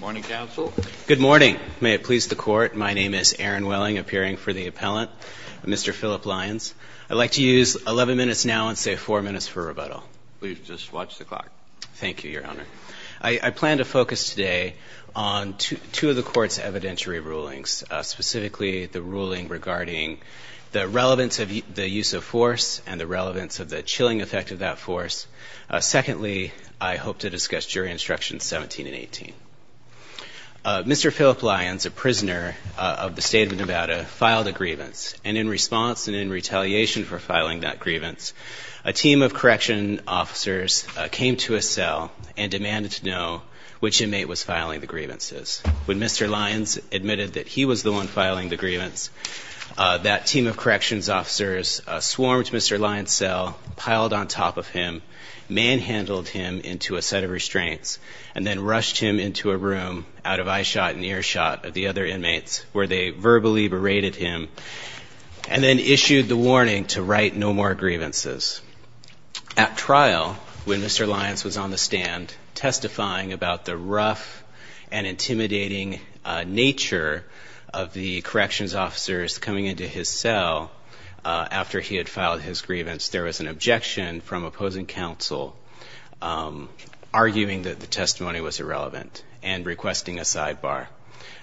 Morning, counsel. Good morning. May it please the court, my name is Aaron Welling, appearing for the appellant, Mr. Philip Lyons. I'd like to use 11 minutes now and save 4 minutes for rebuttal. Please just watch the clock. Thank you, your honor. I plan to focus today on two of the court's evidentiary rulings, specifically the ruling regarding the relevance of the use of force and the relevance of the chilling effect of that force. Secondly, I hope to discuss jury instructions 17 and 18. Mr. Philip Lyons, a prisoner of the state of Nevada, filed a grievance, and in response and in retaliation for filing that grievance, a team of corrections officers came to his cell and demanded to know which inmate was filing the grievances. When Mr. Lyons admitted that he was the one filing the grievance, that team of corrections officers swarmed Mr. Lyons' cell, piled on top of him, manhandled him into a set of restraints, and then rushed him into a room out of eyeshot and earshot of the other inmates where they verbally berated him, and then issued the warning to write no more grievances. At trial, when Mr. Lyons was on the stand testifying about the rough and intimidating nature of the corrections officers coming into his cell after he had filed his grievance, there was an objection from opposing counsel arguing that the testimony was irrelevant and requesting a sidebar.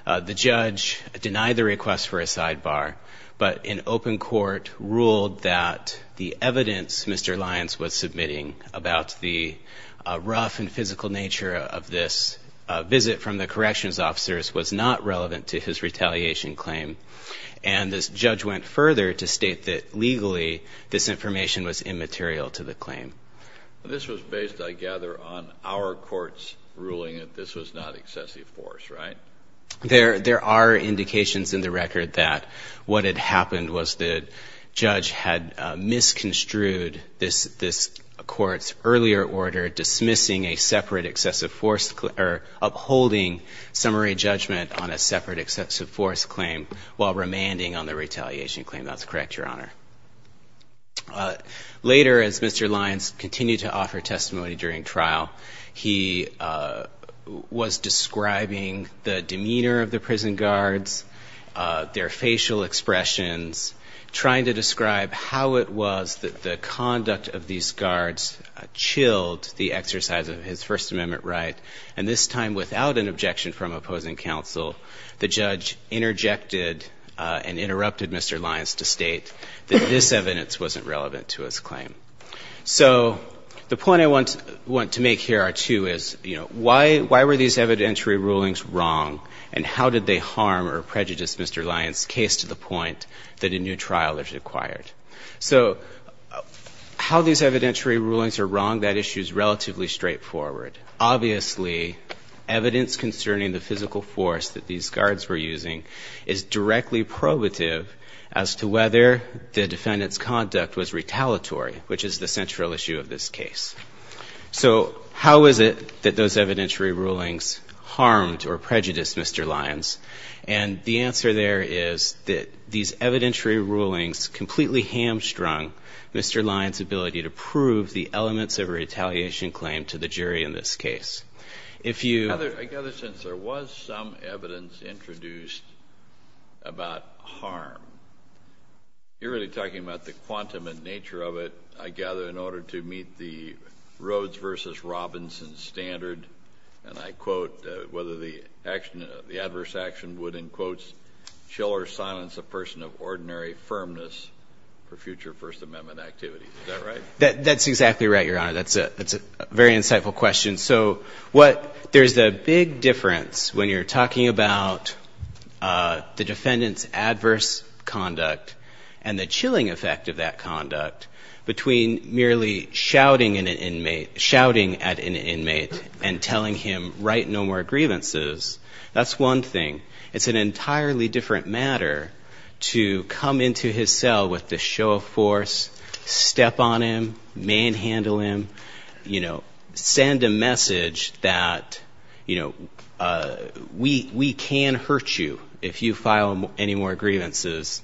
The judge denied the request for a sidebar, but in open court ruled that the evidence Mr. Lyons was submitting about the rough and physical nature of this visit from the corrections officers was not relevant to his retaliation claim, and this judge went further to state that legally this information was immaterial to the claim. This was based, I gather, on our court's ruling that this was not excessive force, right? There are indications in the record that what had happened was the judge had misconstrued this court's earlier order dismissing a separate excessive force, or upholding summary judgment on a separate excessive force claim while remanding on the retaliation claim. That's correct, Your Honor. Later, as Mr. Lyons continued to offer testimony during trial, he was describing the demeanor of the prison guards, their facial expressions, trying to describe how it was that the conduct of these guards chilled the exercise of his First Amendment right. And this time, without an objection from opposing counsel, the judge interjected and interrupted Mr. Lyons to state that this evidence wasn't relevant to his claim. So the point I want to make here, too, is, you know, why were these evidentiary rulings wrong, and how did they harm or prejudice Mr. Lyons' case to the point that a new trial is required? So how these evidentiary rulings are wrong, that issue is relatively straightforward. Obviously, evidence concerning the physical force that these guards were using is directly probative as to whether the defendant's conduct was retaliatory, which is the central issue of this case. So how is it that those evidentiary rulings harmed or prejudiced Mr. Lyons? And the answer there is that these evidentiary rulings completely hamstrung Mr. Lyons' ability to prove the elements of a retaliation claim to the jury in this case. If you — I gather since there was some evidence introduced about harm, you're really talking about the quantum and nature of it, I gather, in order to meet the Rhodes v. Robinson standard. And I quote, whether the adverse action would, in quotes, chill or silence a person of ordinary firmness for future First Amendment activities. Is that right? That's exactly right, Your Honor. That's a very insightful question. So what — there's a big difference when you're talking about the defendant's adverse conduct and the chilling effect of that conduct between merely shouting at an inmate and telling him, write no more grievances. That's one thing. It's an entirely different matter to come into his cell with the show of force, step on him, manhandle him, you know, send a message that, you know, we can hurt you if you file any more grievances.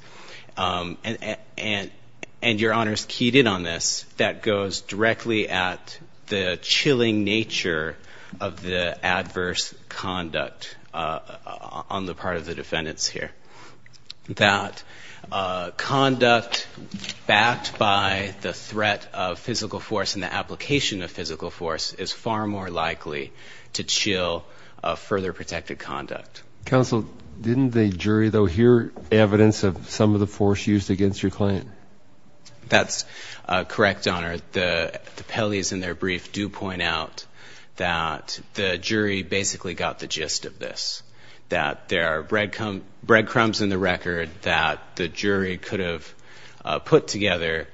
And Your Honor's keyed in on this, that goes directly at the chilling nature of the adverse conduct on the part of the defendants here. That conduct backed by the threat of physical force and the application of physical force is far more likely to chill further protected conduct. Counsel, didn't the jury, though, hear evidence of some of the force used against your client? That's correct, Your Honor. The Pelley's in their brief do point out that the jury basically got the gist of this, that there are breadcrumbs in the record that the jury could have put together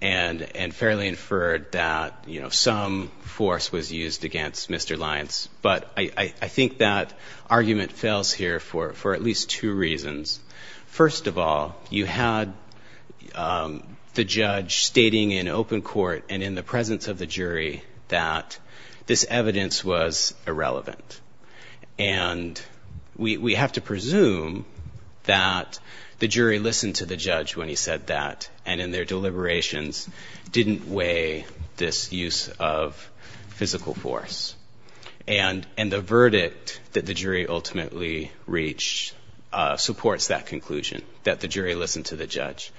and fairly inferred that, you know, some force was used against Mr. Lyons. But I think that argument fails here for at least two reasons. First of all, you had the judge stating in open court and in the presence of the jury that this evidence was irrelevant. And we have to presume that the jury listened to the judge when he said that and in their deliberations didn't weigh this use of physical force. And the verdict that the jury ultimately reached supports that conclusion, that the jury listened to the judge.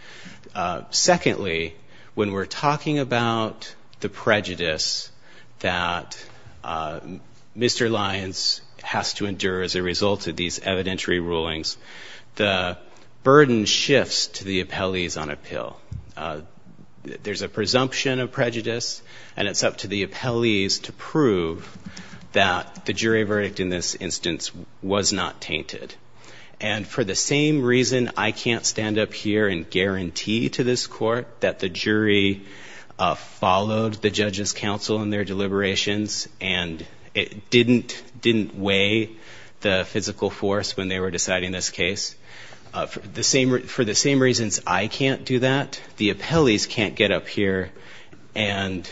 Secondly, when we're talking about the prejudice that Mr. Lyons has to endure as a result of these evidentiary rulings, the burden shifts to the appellees on appeal. There's a presumption of prejudice, and it's up to the appellees to prove that the jury verdict in this instance was not tainted. And for the same reason I can't stand up here and guarantee to this court that the jury followed the judge's counsel in their deliberations and it didn't weigh the physical force when they were deciding this case, for the same reasons I can't do that, the appellees can't get up here and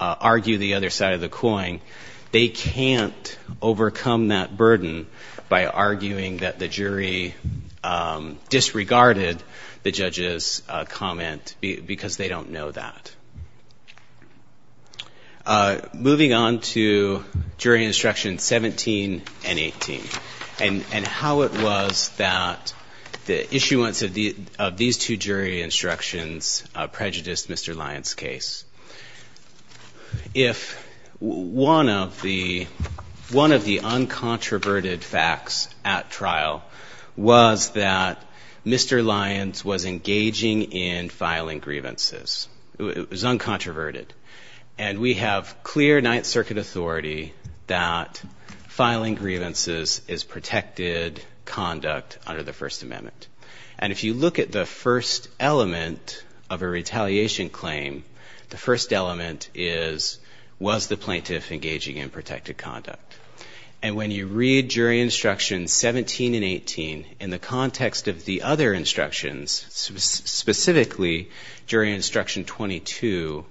argue the other side of the coin. They can't overcome that burden by arguing that the jury disregarded the judge's comment because they don't know that. Moving on to jury instruction 17 and 18 and how it was that the issuance of these two jury instructions prejudiced Mr. Lyons' case. If one of the uncontroverted facts at trial was that Mr. Lyons was engaging in filing grievances, it was uncontroverted, and we have clear Ninth Circuit authority that filing grievances is protected conduct under the First Amendment. And if you look at the first element of a retaliation claim, the first element is, was the plaintiff engaging in protected conduct? And when you read jury instruction 17 and 18 in the context of the other instructions, specifically jury instruction 22,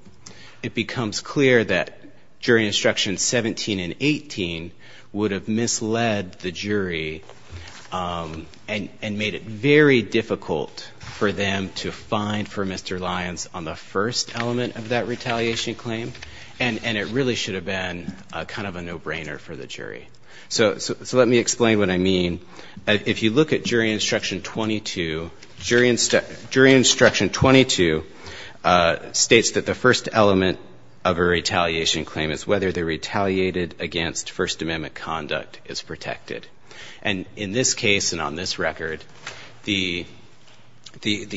it becomes clear that jury instruction 17 and 18 would have misled the jury and made it very clear that the plaintiff was engaging in protected conduct. It was very difficult for them to find for Mr. Lyons on the first element of that retaliation claim, and it really should have been kind of a no-brainer for the jury. So let me explain what I mean. If you look at jury instruction 22, jury instruction 22 states that the first element of a retaliation claim is whether the retaliated against First Amendment conduct is protected. And in this case and on this record, the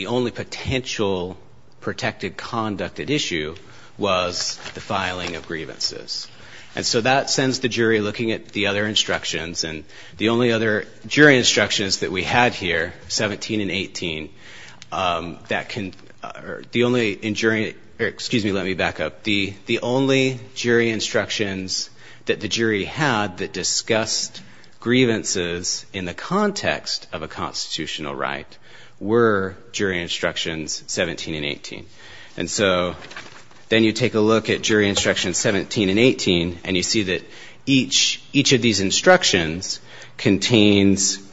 only potential protected conduct at issue was the filing of grievances. And so that sends the jury looking at the other instructions, and the only other jury instructions that we had here, 17 and 18, that can or the only in jury or excuse me, let me back up. The only jury instructions that the jury had that discussed grievances in the context of a constitutional right were jury instructions 17 and 18. And so then you take a look at jury instruction 17 and 18, and you see that each of these instructions contains, you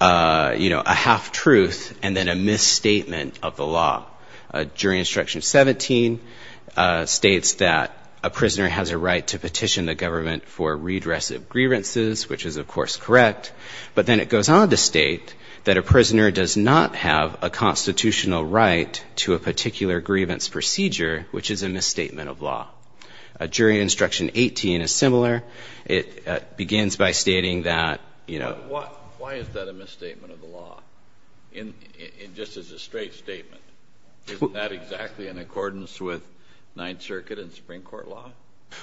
know, a half-truth and then a misstatement of the law. Jury instruction 17 states that a prisoner has a right to petition the government for redress of grievances, which is, of course, correct. But then it goes on to state that a prisoner does not have a constitutional right to a particular grievance procedure, which is a misstatement of law. Jury instruction 18 is similar. It begins by stating that, you know... Why is that a misstatement of the law, just as a straight statement? Isn't that exactly in accordance with Ninth Circuit and Supreme Court law?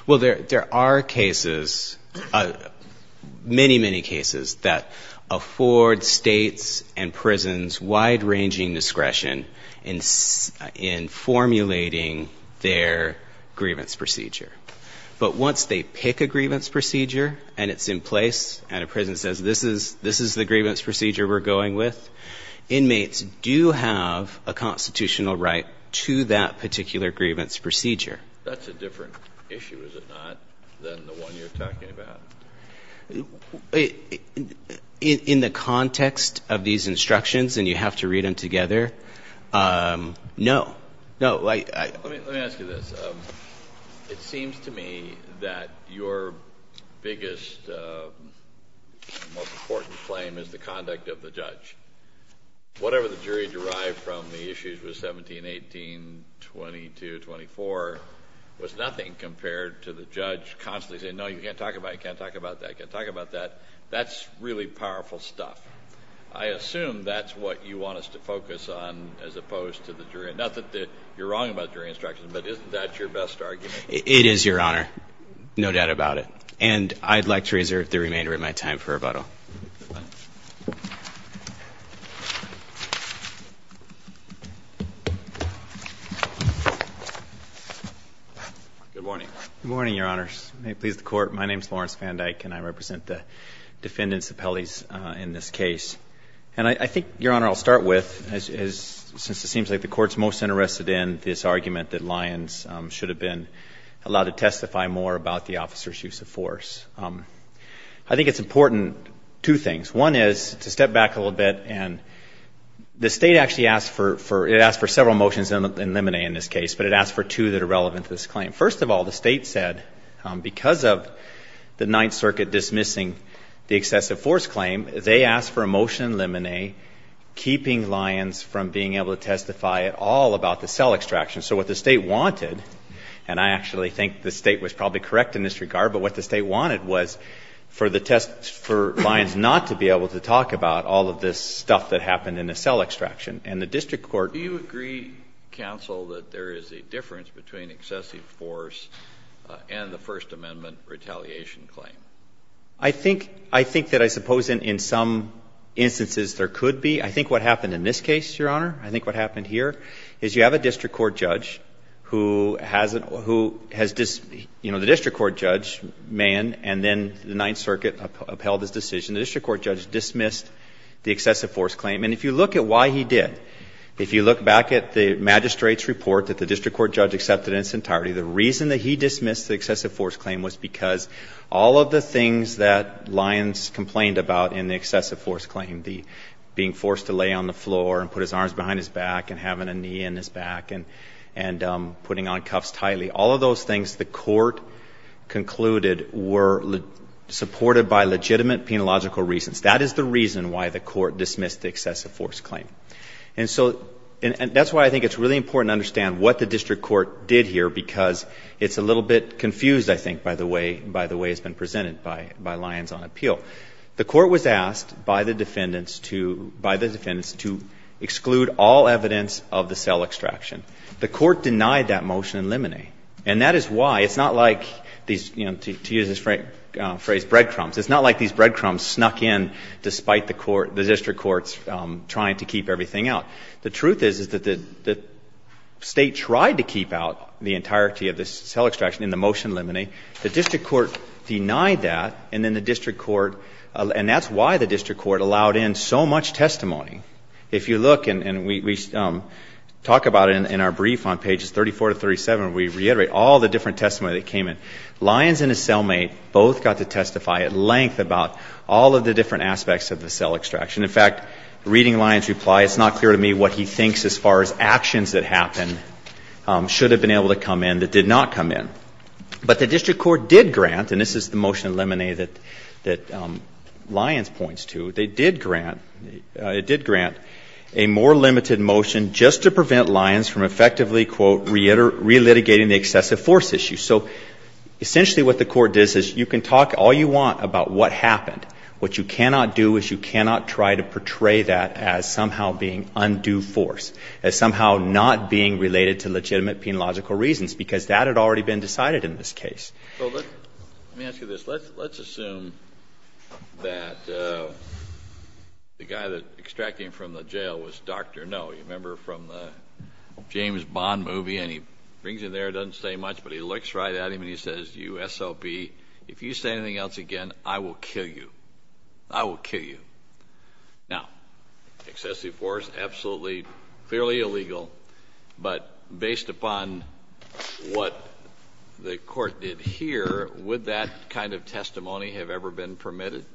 Well, there are cases, many, many cases, that afford states and prisons wide-ranging discretion in formulating their grievance procedure. But once they pick a grievance procedure and it's in place and a prison says, this is the grievance procedure we're going with, inmates do have a constitutional right to that particular grievance procedure. That's a different issue, is it not, than the one you're talking about? In the context of these instructions, and you have to read them together, no. Let me ask you this. It seems to me that your biggest, most important claim is the conduct of the judge. Whatever the jury derived from the issues with 17, 18, 22, 24 was nothing compared to the judge constantly saying, no, you can't talk about it, you can't talk about that, you can't talk about that. That's really powerful stuff. I assume that's what you want us to focus on as opposed to the jury. Not that you're wrong about jury instructions, but isn't that your best argument? It is, Your Honor. No doubt about it. And I'd like to reserve the remainder of my time for rebuttal. Good morning. Good morning, Your Honors. May it please the Court. My name is Lawrence Van Dyke, and I represent the defendants' appellees in this case. And I think, Your Honor, I'll start with, since it seems like the Court's most interested in this argument that Lyons should have been allowed to testify more about the officer's use of force. I think it's important, two things. One is, to step back a little bit, and the State actually asked for several motions in limine in this case, but it asked for two that are relevant to this claim. First of all, the State said, because of the Ninth Circuit dismissing the excessive force claim, they asked for a motion in limine keeping Lyons from being able to testify at all about the cell extraction. So what the State wanted, and I actually think the State was probably correct in this regard, but what the State wanted was for Lyons not to be able to talk about all of this stuff that happened in the cell extraction. And the district court — Do you agree, counsel, that there is a difference between excessive force and the First Amendment retaliation claim? I think that I suppose in some instances there could be. I think what happened in this case, Your Honor, I think what happened here, is you have a district court judge, who has — you know, the district court judge, Mann, and then the Ninth Circuit upheld his decision. The district court judge dismissed the excessive force claim, and if you look at why he did, if you look back at the magistrate's report that the district court judge accepted in its entirety, the reason that he dismissed the excessive force claim was because all of the things that Lyons complained about in the excessive force claim, the being forced to lay on the floor and put his arms behind his back and having a knee in his back, and all of the things that Lyons complained about in the excessive force claim, and putting on cuffs tightly, all of those things the court concluded were supported by legitimate penological reasons. That is the reason why the court dismissed the excessive force claim. And so — and that's why I think it's really important to understand what the district court did here, because it's a little bit confused, I think, by the way — by the way it's been presented by Lyons on appeal. The court was asked by the defendants to — by the defendants to exclude all evidence of the cell extraction. The court denied that motion in limine, and that is why — it's not like these, you know, to use this phrase, breadcrumbs, it's not like these breadcrumbs snuck in despite the court — the district court's trying to keep everything out. The truth is, is that the State tried to keep out the entirety of the cell extraction in the motion in limine. The district court denied that, and then the district court — and that's why the district court allowed in so much testimony. If you look, and we talk about it in our brief on pages 34 to 37, we reiterate all the different testimony that came in. Lyons and his cellmate both got to testify at length about all of the different aspects of the cell extraction. In fact, reading Lyons' reply, it's not clear to me what he thinks as far as actions that happened should have been able to come in that did not come in. But the district court did grant, and this is the motion in limine that Lyons points to, they did grant, it did grant a more limited motion just to prevent Lyons from effectively, quote, relitigating the excessive force issue. So essentially what the court did is you can talk all you want about what happened. What you cannot do is you cannot try to portray that as somehow being undue force, as somehow not being related to legitimate penalogical reasons, because that had already been decided in this case. Let me ask you this. Let's assume that the guy that extracted him from the jail was Dr. No. You remember from the James Bond movie, and he brings him there, doesn't say much, but he looks right at him and he says, you SOB, if you say anything else again, I will kill you. I will kill you. Now, excessive force, absolutely, clearly illegal, but based upon what the court did here, would that kind of testimony have ever been permitted?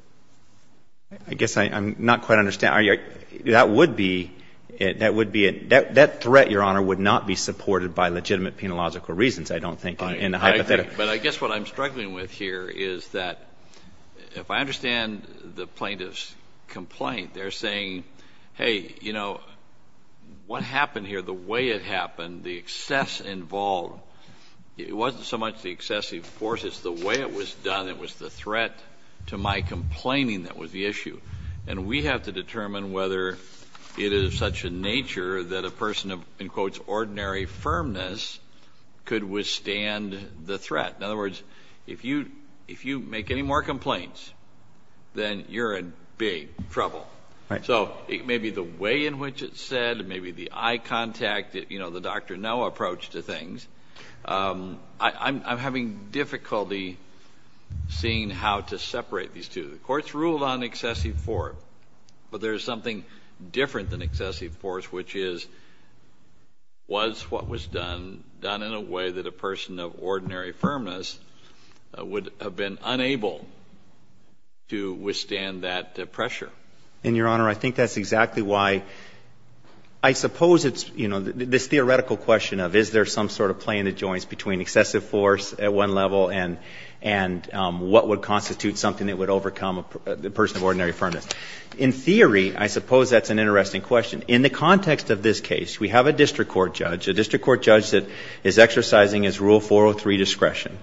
I guess I'm not quite understanding. That threat, Your Honor, would not be supported by legitimate penalogical reasons, I don't think, in the hypothetical. But I guess what I'm struggling with here is that if I understand the plaintiff's complaint, they're saying, hey, you know, what happened here, the way it happened, the excess involved, it wasn't so much the excessive force, it's the way it was done that was the threat to my complaining that was the issue. And we have to determine whether it is of such a nature that a person of, in quotes, ordinary firmness could withstand the threat. In other words, if you make any more complaints, then you're in big trouble. So maybe the way in which it's said, maybe the eye contact, you know, the Dr. No approach to things, I'm having difficulty seeing how to separate these two. The court's ruled on excessive force, but there is something different than excessive force, which is, was what was done, done in a way that a person of ordinary firmness would have been unable to withstand that pressure. And, Your Honor, I think that's exactly why I suppose it's, you know, this theoretical question of is there some sort of play in the joints between excessive force at one level and what would constitute something that would overcome a person of ordinary firmness. In theory, I suppose that's an interesting question. In the context of this case, we have a district court judge, a district court judge that is exercising his Rule 403 discretion.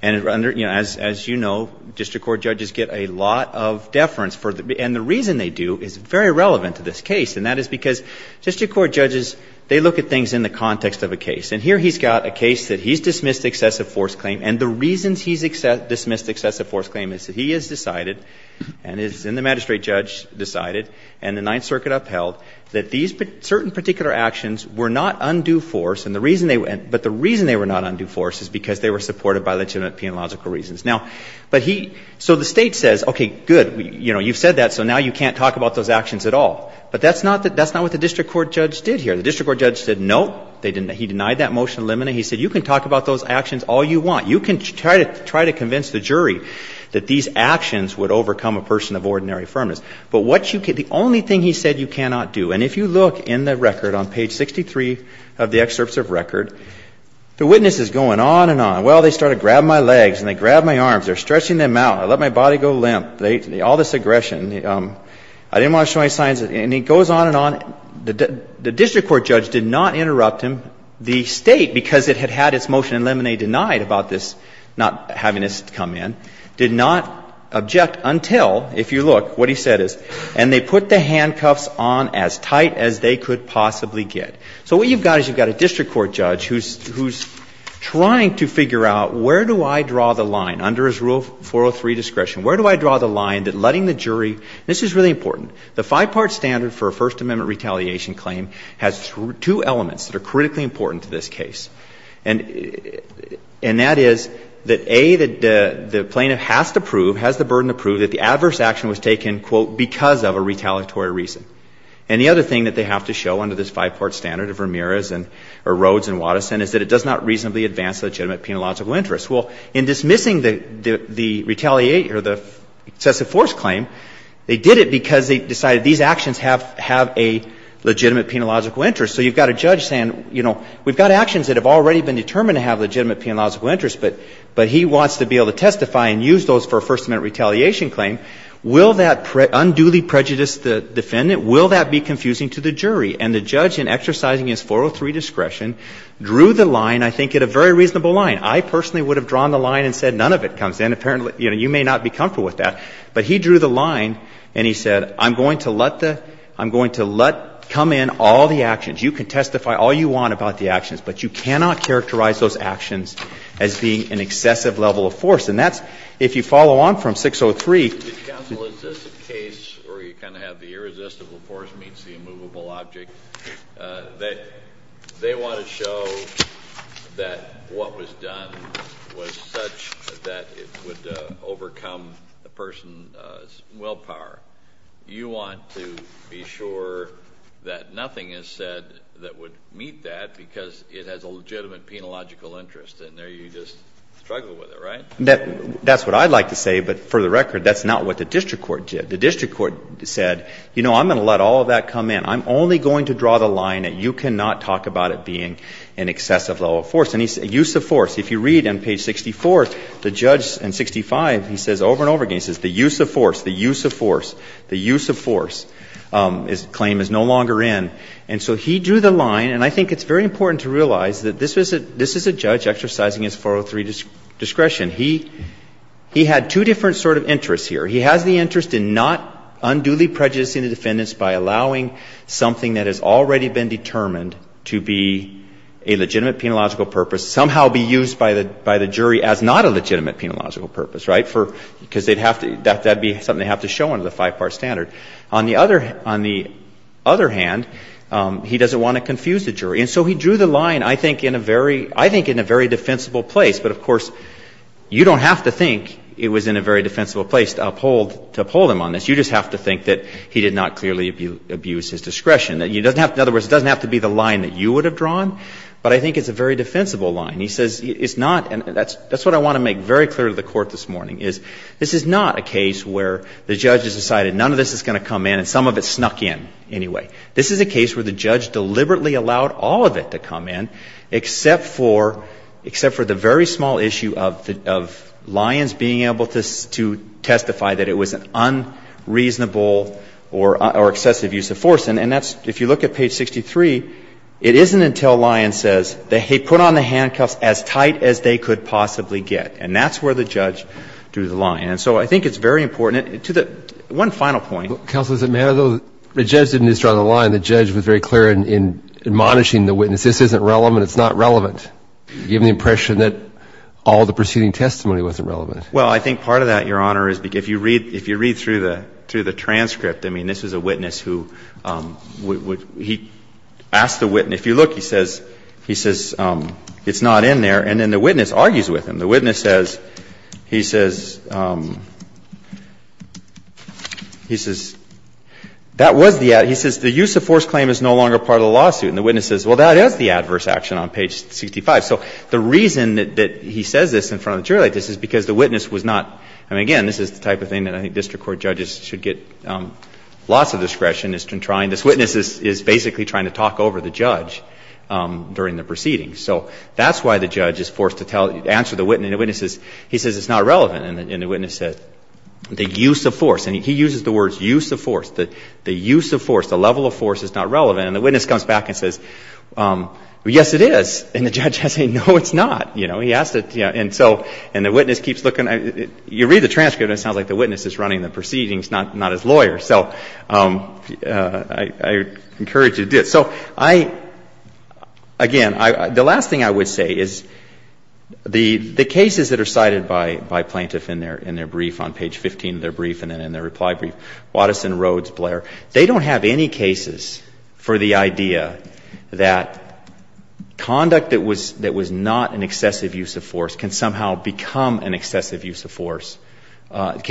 And, you know, as you know, district court judges get a lot of deference for, and the reason they do is very relevant to this case, and that is because district court judges, they look at things in the context of a case. And here he's got a case that he's dismissed excessive force claim, and the reasons he's dismissed excessive force claim is that he has decided, and the magistrate judge decided, and the Ninth Circuit upheld, that these certain particular actions were not undue force, but the reason they were not undue force is because they were supported by legitimate penalogical reasons. Now, but he, so the State says, okay, good, you know, you've said that, so now you can't talk about those actions at all. But that's not what the district court judge did here. The district court judge said, no, he denied that motion to eliminate. He said, you can talk about those actions all you want. You can try to convince the jury that these actions would overcome a person of ordinary firmness. But what you can't, the only thing he said you cannot do, and if you look in the record on page 63 of the excerpts of record, the witness is going on and on. Well, they started grabbing my legs, and they grabbed my arms. They're stretching them out. I let my body go limp. All this aggression. I didn't want to show any signs of it. And he goes on and on. The district court judge did not interrupt him. The State, because it had had its motion eliminate denied about this not having this come in, did not object until, if you look, what he said is, and they put the handcuffs on as tight as they could possibly get. So what you've got is you've got a district court judge who's trying to figure out where do I draw the line under his Rule 403 discretion? Where do I draw the line that letting the jury, and this is really important, the five-part standard for a First Amendment retaliation claim has two elements that are critically important to this case, and that is that, A, the plaintiff has to prove, has the burden to prove that the adverse action was taken, quote, because of a retaliatory reason. And the other thing that they have to show under this five-part standard of Ramirez or Rhoades and Watterson is that it does not reasonably advance legitimate penological interest. Well, in dismissing the retaliation or the excessive force claim, they did it because they decided these actions have a legitimate penological interest. So you've got a judge saying, you know, we've got actions that have already been determined to have legitimate penological interest, but he wants to be able to testify and use those for a First Amendment retaliation claim. Will that unduly prejudice the defendant? Will that be confusing to the jury? And the judge, in exercising his 403 discretion, drew the line, I think, at a very reasonable line. I personally would have drawn the line and said none of it comes in. Apparently you may not be comfortable with that. But he drew the line and he said, I'm going to let the, I'm going to let come in all the actions. You can testify all you want about the actions, but you cannot characterize those actions as being an excessive level of force. And that's, if you follow on from 603. The counsel, is this a case where you kind of have the irresistible force meets the immovable object, that they want to show that what was done was such that it would overcome a person's willpower. You want to be sure that nothing is said that would meet that because it has a legitimate penological interest, and there you just struggle with it, right? That's what I'd like to say, but for the record, that's not what the district court did. The district court said, you know, I'm going to let all of that come in. I'm only going to draw the line that you cannot talk about it being an excessive level of force. And he said use of force. If you read on page 64, the judge in 65, he says over and over again, he says the use of force, the use of force, the use of force, his claim is no longer in. And so he drew the line. And I think it's very important to realize that this was a, this is a judge exercising his 403 discretion. He had two different sort of interests here. He has the interest in not unduly prejudicing the defendants by allowing something that has already been determined to be a legitimate penological purpose somehow be used by the jury as not a legitimate penological purpose, right, because they'd have to, that would be something they'd have to show under the five-part standard. On the other hand, he doesn't want to confuse the jury. And so he drew the line, I think, in a very, I think in a very defensible place. But, of course, you don't have to think it was in a very defensible place to uphold, to uphold him on this. You just have to think that he did not clearly abuse his discretion. You don't have to, in other words, it doesn't have to be the line that you would have drawn, but I think it's a very defensible line. He says it's not, and that's what I want to make very clear to the Court this morning, is this is not a case where the judge has decided none of this is going to come in and some of it snuck in anyway. This is a case where the judge deliberately allowed all of it to come in, except for, except for the very small issue of Lyons being able to testify that it was an unreasonable or excessive use of force. And that's, if you look at page 63, it isn't until Lyons says that he put on the handcuffs as tight as they could possibly get. And that's where the judge drew the line. And so I think it's very important to the, one final point. Breyer. Counsel, does it matter, though, the judge didn't just draw the line. The judge was very clear in admonishing the witness. This isn't relevant. It's not relevant, given the impression that all the proceeding testimony wasn't relevant. Well, I think part of that, Your Honor, is if you read, if you read through the, through the transcript, I mean, this is a witness who would, he asked the witness, if you look, he says, he says it's not in there. And then the witness argues with him. The witness says, he says, he says, that was the, he says the use of force claim is no longer part of the lawsuit. And the witness says, well, that is the adverse action on page 65. So the reason that he says this in front of the jury like this is because the witness was not, I mean, again, this is the type of thing that I think district court judges should get lots of discretion in trying. This witness is basically trying to talk over the judge during the proceedings. So that's why the judge is forced to tell, answer the witness. And the witness says, he says, it's not relevant. And the witness says, the use of force. And he uses the words use of force. The use of force, the level of force is not relevant. And the witness comes back and says, yes, it is. And the judge has to say, no, it's not. You know, he asked it, and so, and the witness keeps looking. You read the transcript and it sounds like the witness is running the proceedings, not his lawyer. So I encourage you to do it. So I, again, the last thing I would say is the cases that are cited by plaintiff in their brief on page 15 of their brief and then in their reply brief, Watteson, Rhoades, Blair, they don't have any cases for the idea that conduct that was not an excessive use of force can somehow become an excessive use of force, that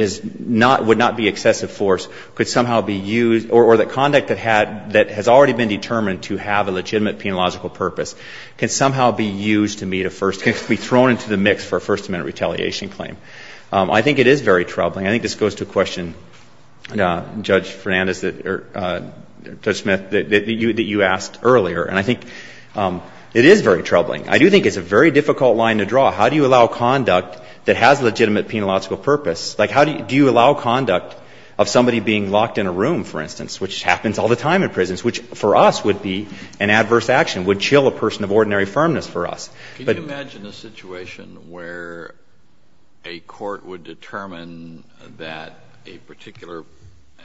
is not, could not be excessive force, could somehow be used, or that conduct that had, that has already been determined to have a legitimate penological purpose can somehow be used to meet a first, can be thrown into the mix for a First Amendment retaliation claim. I think it is very troubling. I think this goes to a question, Judge Fernandez, or Judge Smith, that you asked earlier. And I think it is very troubling. I do think it's a very difficult line to draw. How do you allow conduct that has a legitimate penological purpose? Like, how do you allow conduct of somebody being locked in a room, for instance, which happens all the time in prisons, which for us would be an adverse action, would chill a person of ordinary firmness for us. But you imagine a situation where a court would determine that a particular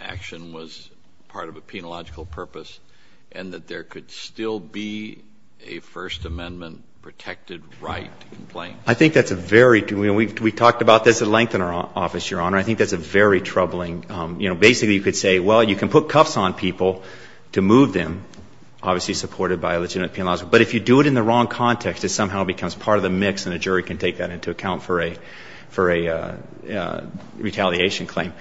action was part of a penological purpose and that there could still be a First Amendment protected right to complain? I think that's a very, you know, we talked about this at length in our office, Your Honor. I think that's a very troubling, you know, basically you could say, well, you can put cuffs on people to move them, obviously supported by a legitimate penological purpose, but if you do it in the wrong context, it somehow becomes part of the mix and a jury can take that into account for a, for a retaliation claim.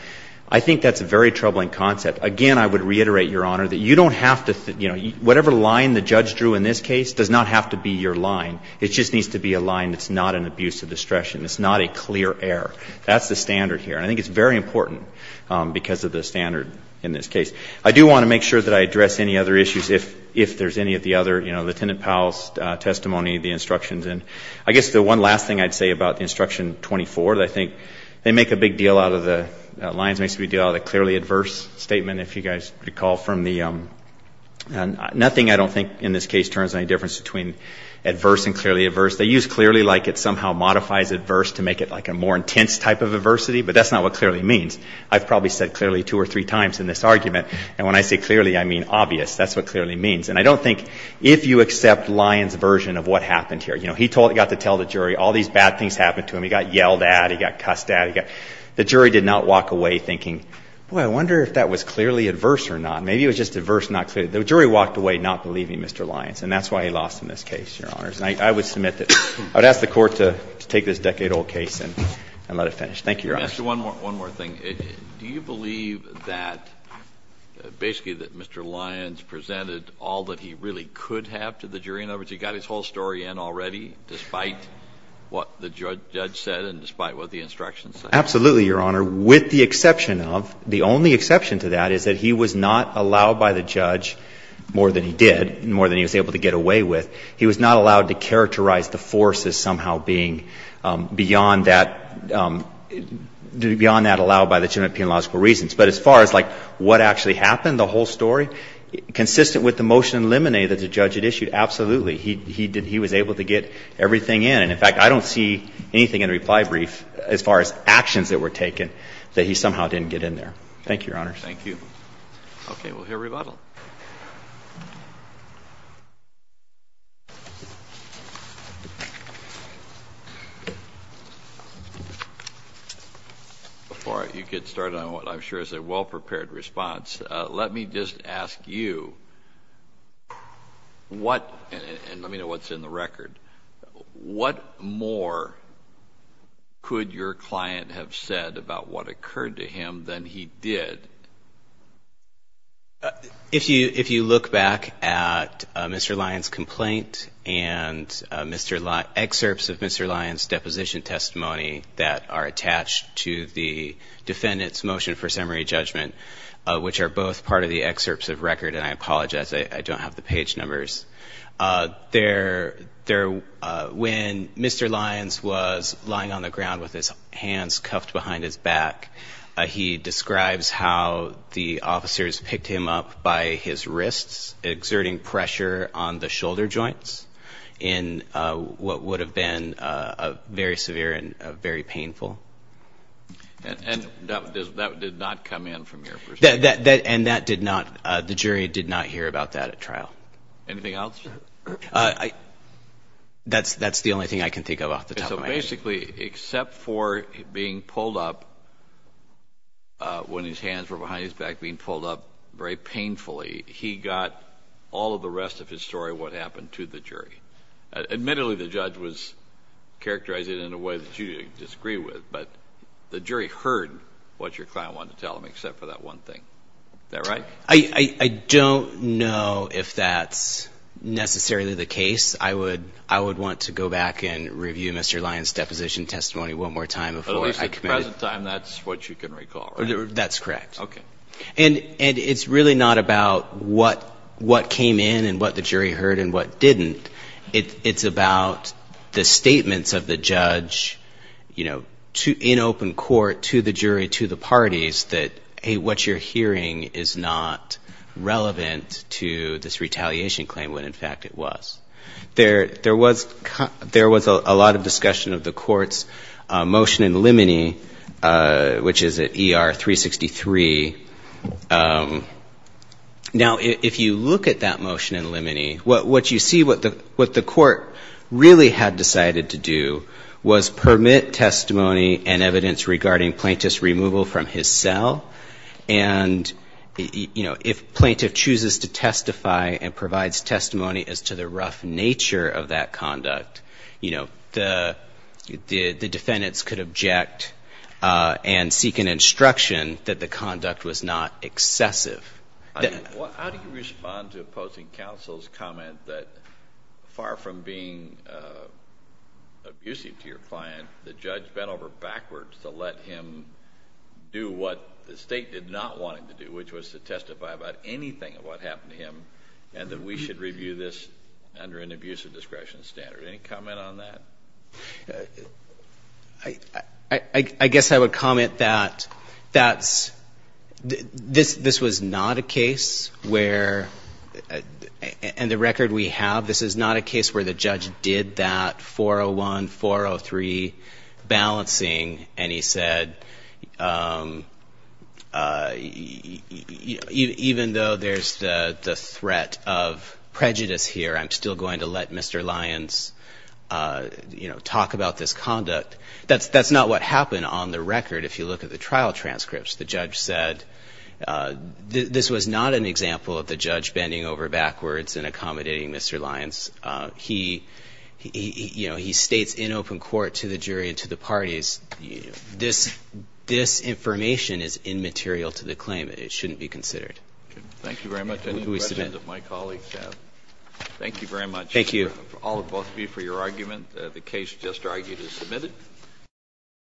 I think that's a very troubling concept. Again, I would reiterate, Your Honor, that you don't have to, you know, whatever line the judge drew in this case does not have to be your line. It just needs to be a line that's not an abuse of discretion. It's not a clear error. That's the standard here. And I think it's very important because of the standard in this case. I do want to make sure that I address any other issues if, if there's any of the other, you know, Lieutenant Powell's testimony, the instructions. And I guess the one last thing I'd say about the Instruction 24 that I think they make a big deal out of the lines, makes a big deal out of the clearly adverse statement, if you guys recall from the, nothing I don't think in this case turns any difference between adverse and clearly adverse. They use clearly like it somehow modifies adverse to make it like a more intense type of adversity, but that's not what clearly means. I've probably said clearly two or three times in this argument, and when I say clearly, I mean obvious. That's what clearly means. And I don't think if you accept Lyons' version of what happened here, you know, he told, got to tell the jury all these bad things happened to him. He got yelled at. He got cussed at. He got, the jury did not walk away thinking, boy, I wonder if that was clearly adverse or not. Maybe it was just adverse, not clear. The jury walked away not believing Mr. Lyons, and that's why he lost in this case, Your Honors. And I would submit that, I would ask the Court to take this decade-old case and let it finish. Thank you, Your Honor. One more thing. Do you believe that basically that Mr. Lyons presented all that he really could have to the jury? In other words, he got his whole story in already despite what the judge said and despite what the instructions say? Absolutely, Your Honor, with the exception of, the only exception to that is that he was not allowed by the judge, more than he did, more than he was able to get away with, he was not allowed to characterize the force as somehow being beyond that, beyond that allowed by the general penal logical reasons. But as far as like what actually happened, the whole story, consistent with the motion eliminated that the judge had issued, absolutely. He did, he was able to get everything in. And in fact, I don't see anything in the reply brief as far as actions that were Thank you, Your Honor. Thank you. Okay, we'll hear rebuttal. Before you get started on what I'm sure is a well-prepared response, let me just ask you what, and let me know what's in the record, what more could your client have said about what occurred to him than he did? If you look back at Mr. Lyons' complaint and Mr. Lyons, excerpts of Mr. Lyons' deposition testimony that are attached to the defendant's motion for summary judgment, which are both part of the excerpts of record, and I apologize, I don't have the page numbers, there, when Mr. Lyons was lying on the ground with his hands cuffed behind his back, he describes how the officers picked him up by his wrists, exerting pressure on the shoulder joints in what would have been very severe and very painful. And that did not come in from your perspective? And that did not, the jury did not hear about that at trial. Anything else? So basically, except for being pulled up when his hands were behind his back, being pulled up very painfully, he got all of the rest of his story, what happened to the jury. Admittedly, the judge was characterizing it in a way that you disagree with, but the jury heard what your client wanted to tell him, except for that one thing. Is that right? I don't know if that's necessarily the case. I would want to go back and review Mr. Lyons' deposition testimony one more time before I commit it. At least at the present time, that's what you can recall, right? That's correct. Okay. And it's really not about what came in and what the jury heard and what didn't. It's about the statements of the judge, you know, in open court to the jury, to the parties, that, hey, what you're hearing is not relevant to this retaliation claim when, in fact, it was. There was a lot of discussion of the court's motion in limine, which is at ER 363. Now, if you look at that motion in limine, what you see, what the court really had decided to do was permit testimony and evidence regarding plaintiff's removal from his cell. And, you know, if plaintiff chooses to testify and provides testimony as to the rough nature of that conduct, you know, the defendants could object and seek an instruction that the conduct was not excessive. How do you respond to opposing counsel's comment that far from being abusive to their client, the judge bent over backwards to let him do what the State did not want him to do, which was to testify about anything of what happened to him and that we should review this under an abusive discretion standard? Any comment on that? I guess I would comment that that's — this was not a case where — and the record we have, this is not a case where the judge did that 401, 403 balancing, and he said, you know, even though there's the threat of prejudice here, I'm still going to let Mr. Lyons, you know, talk about this conduct. That's not what happened on the record. If you look at the trial transcripts, the judge said this was not an example of the judge bending over backwards and accommodating Mr. Lyons. He — you know, he states in open court to the jury and to the parties, this information is immaterial to the claim. It shouldn't be considered. Thank you very much. Any questions that my colleagues have? Thank you very much. Thank you. All of both of you for your argument. The case just argued is submitted.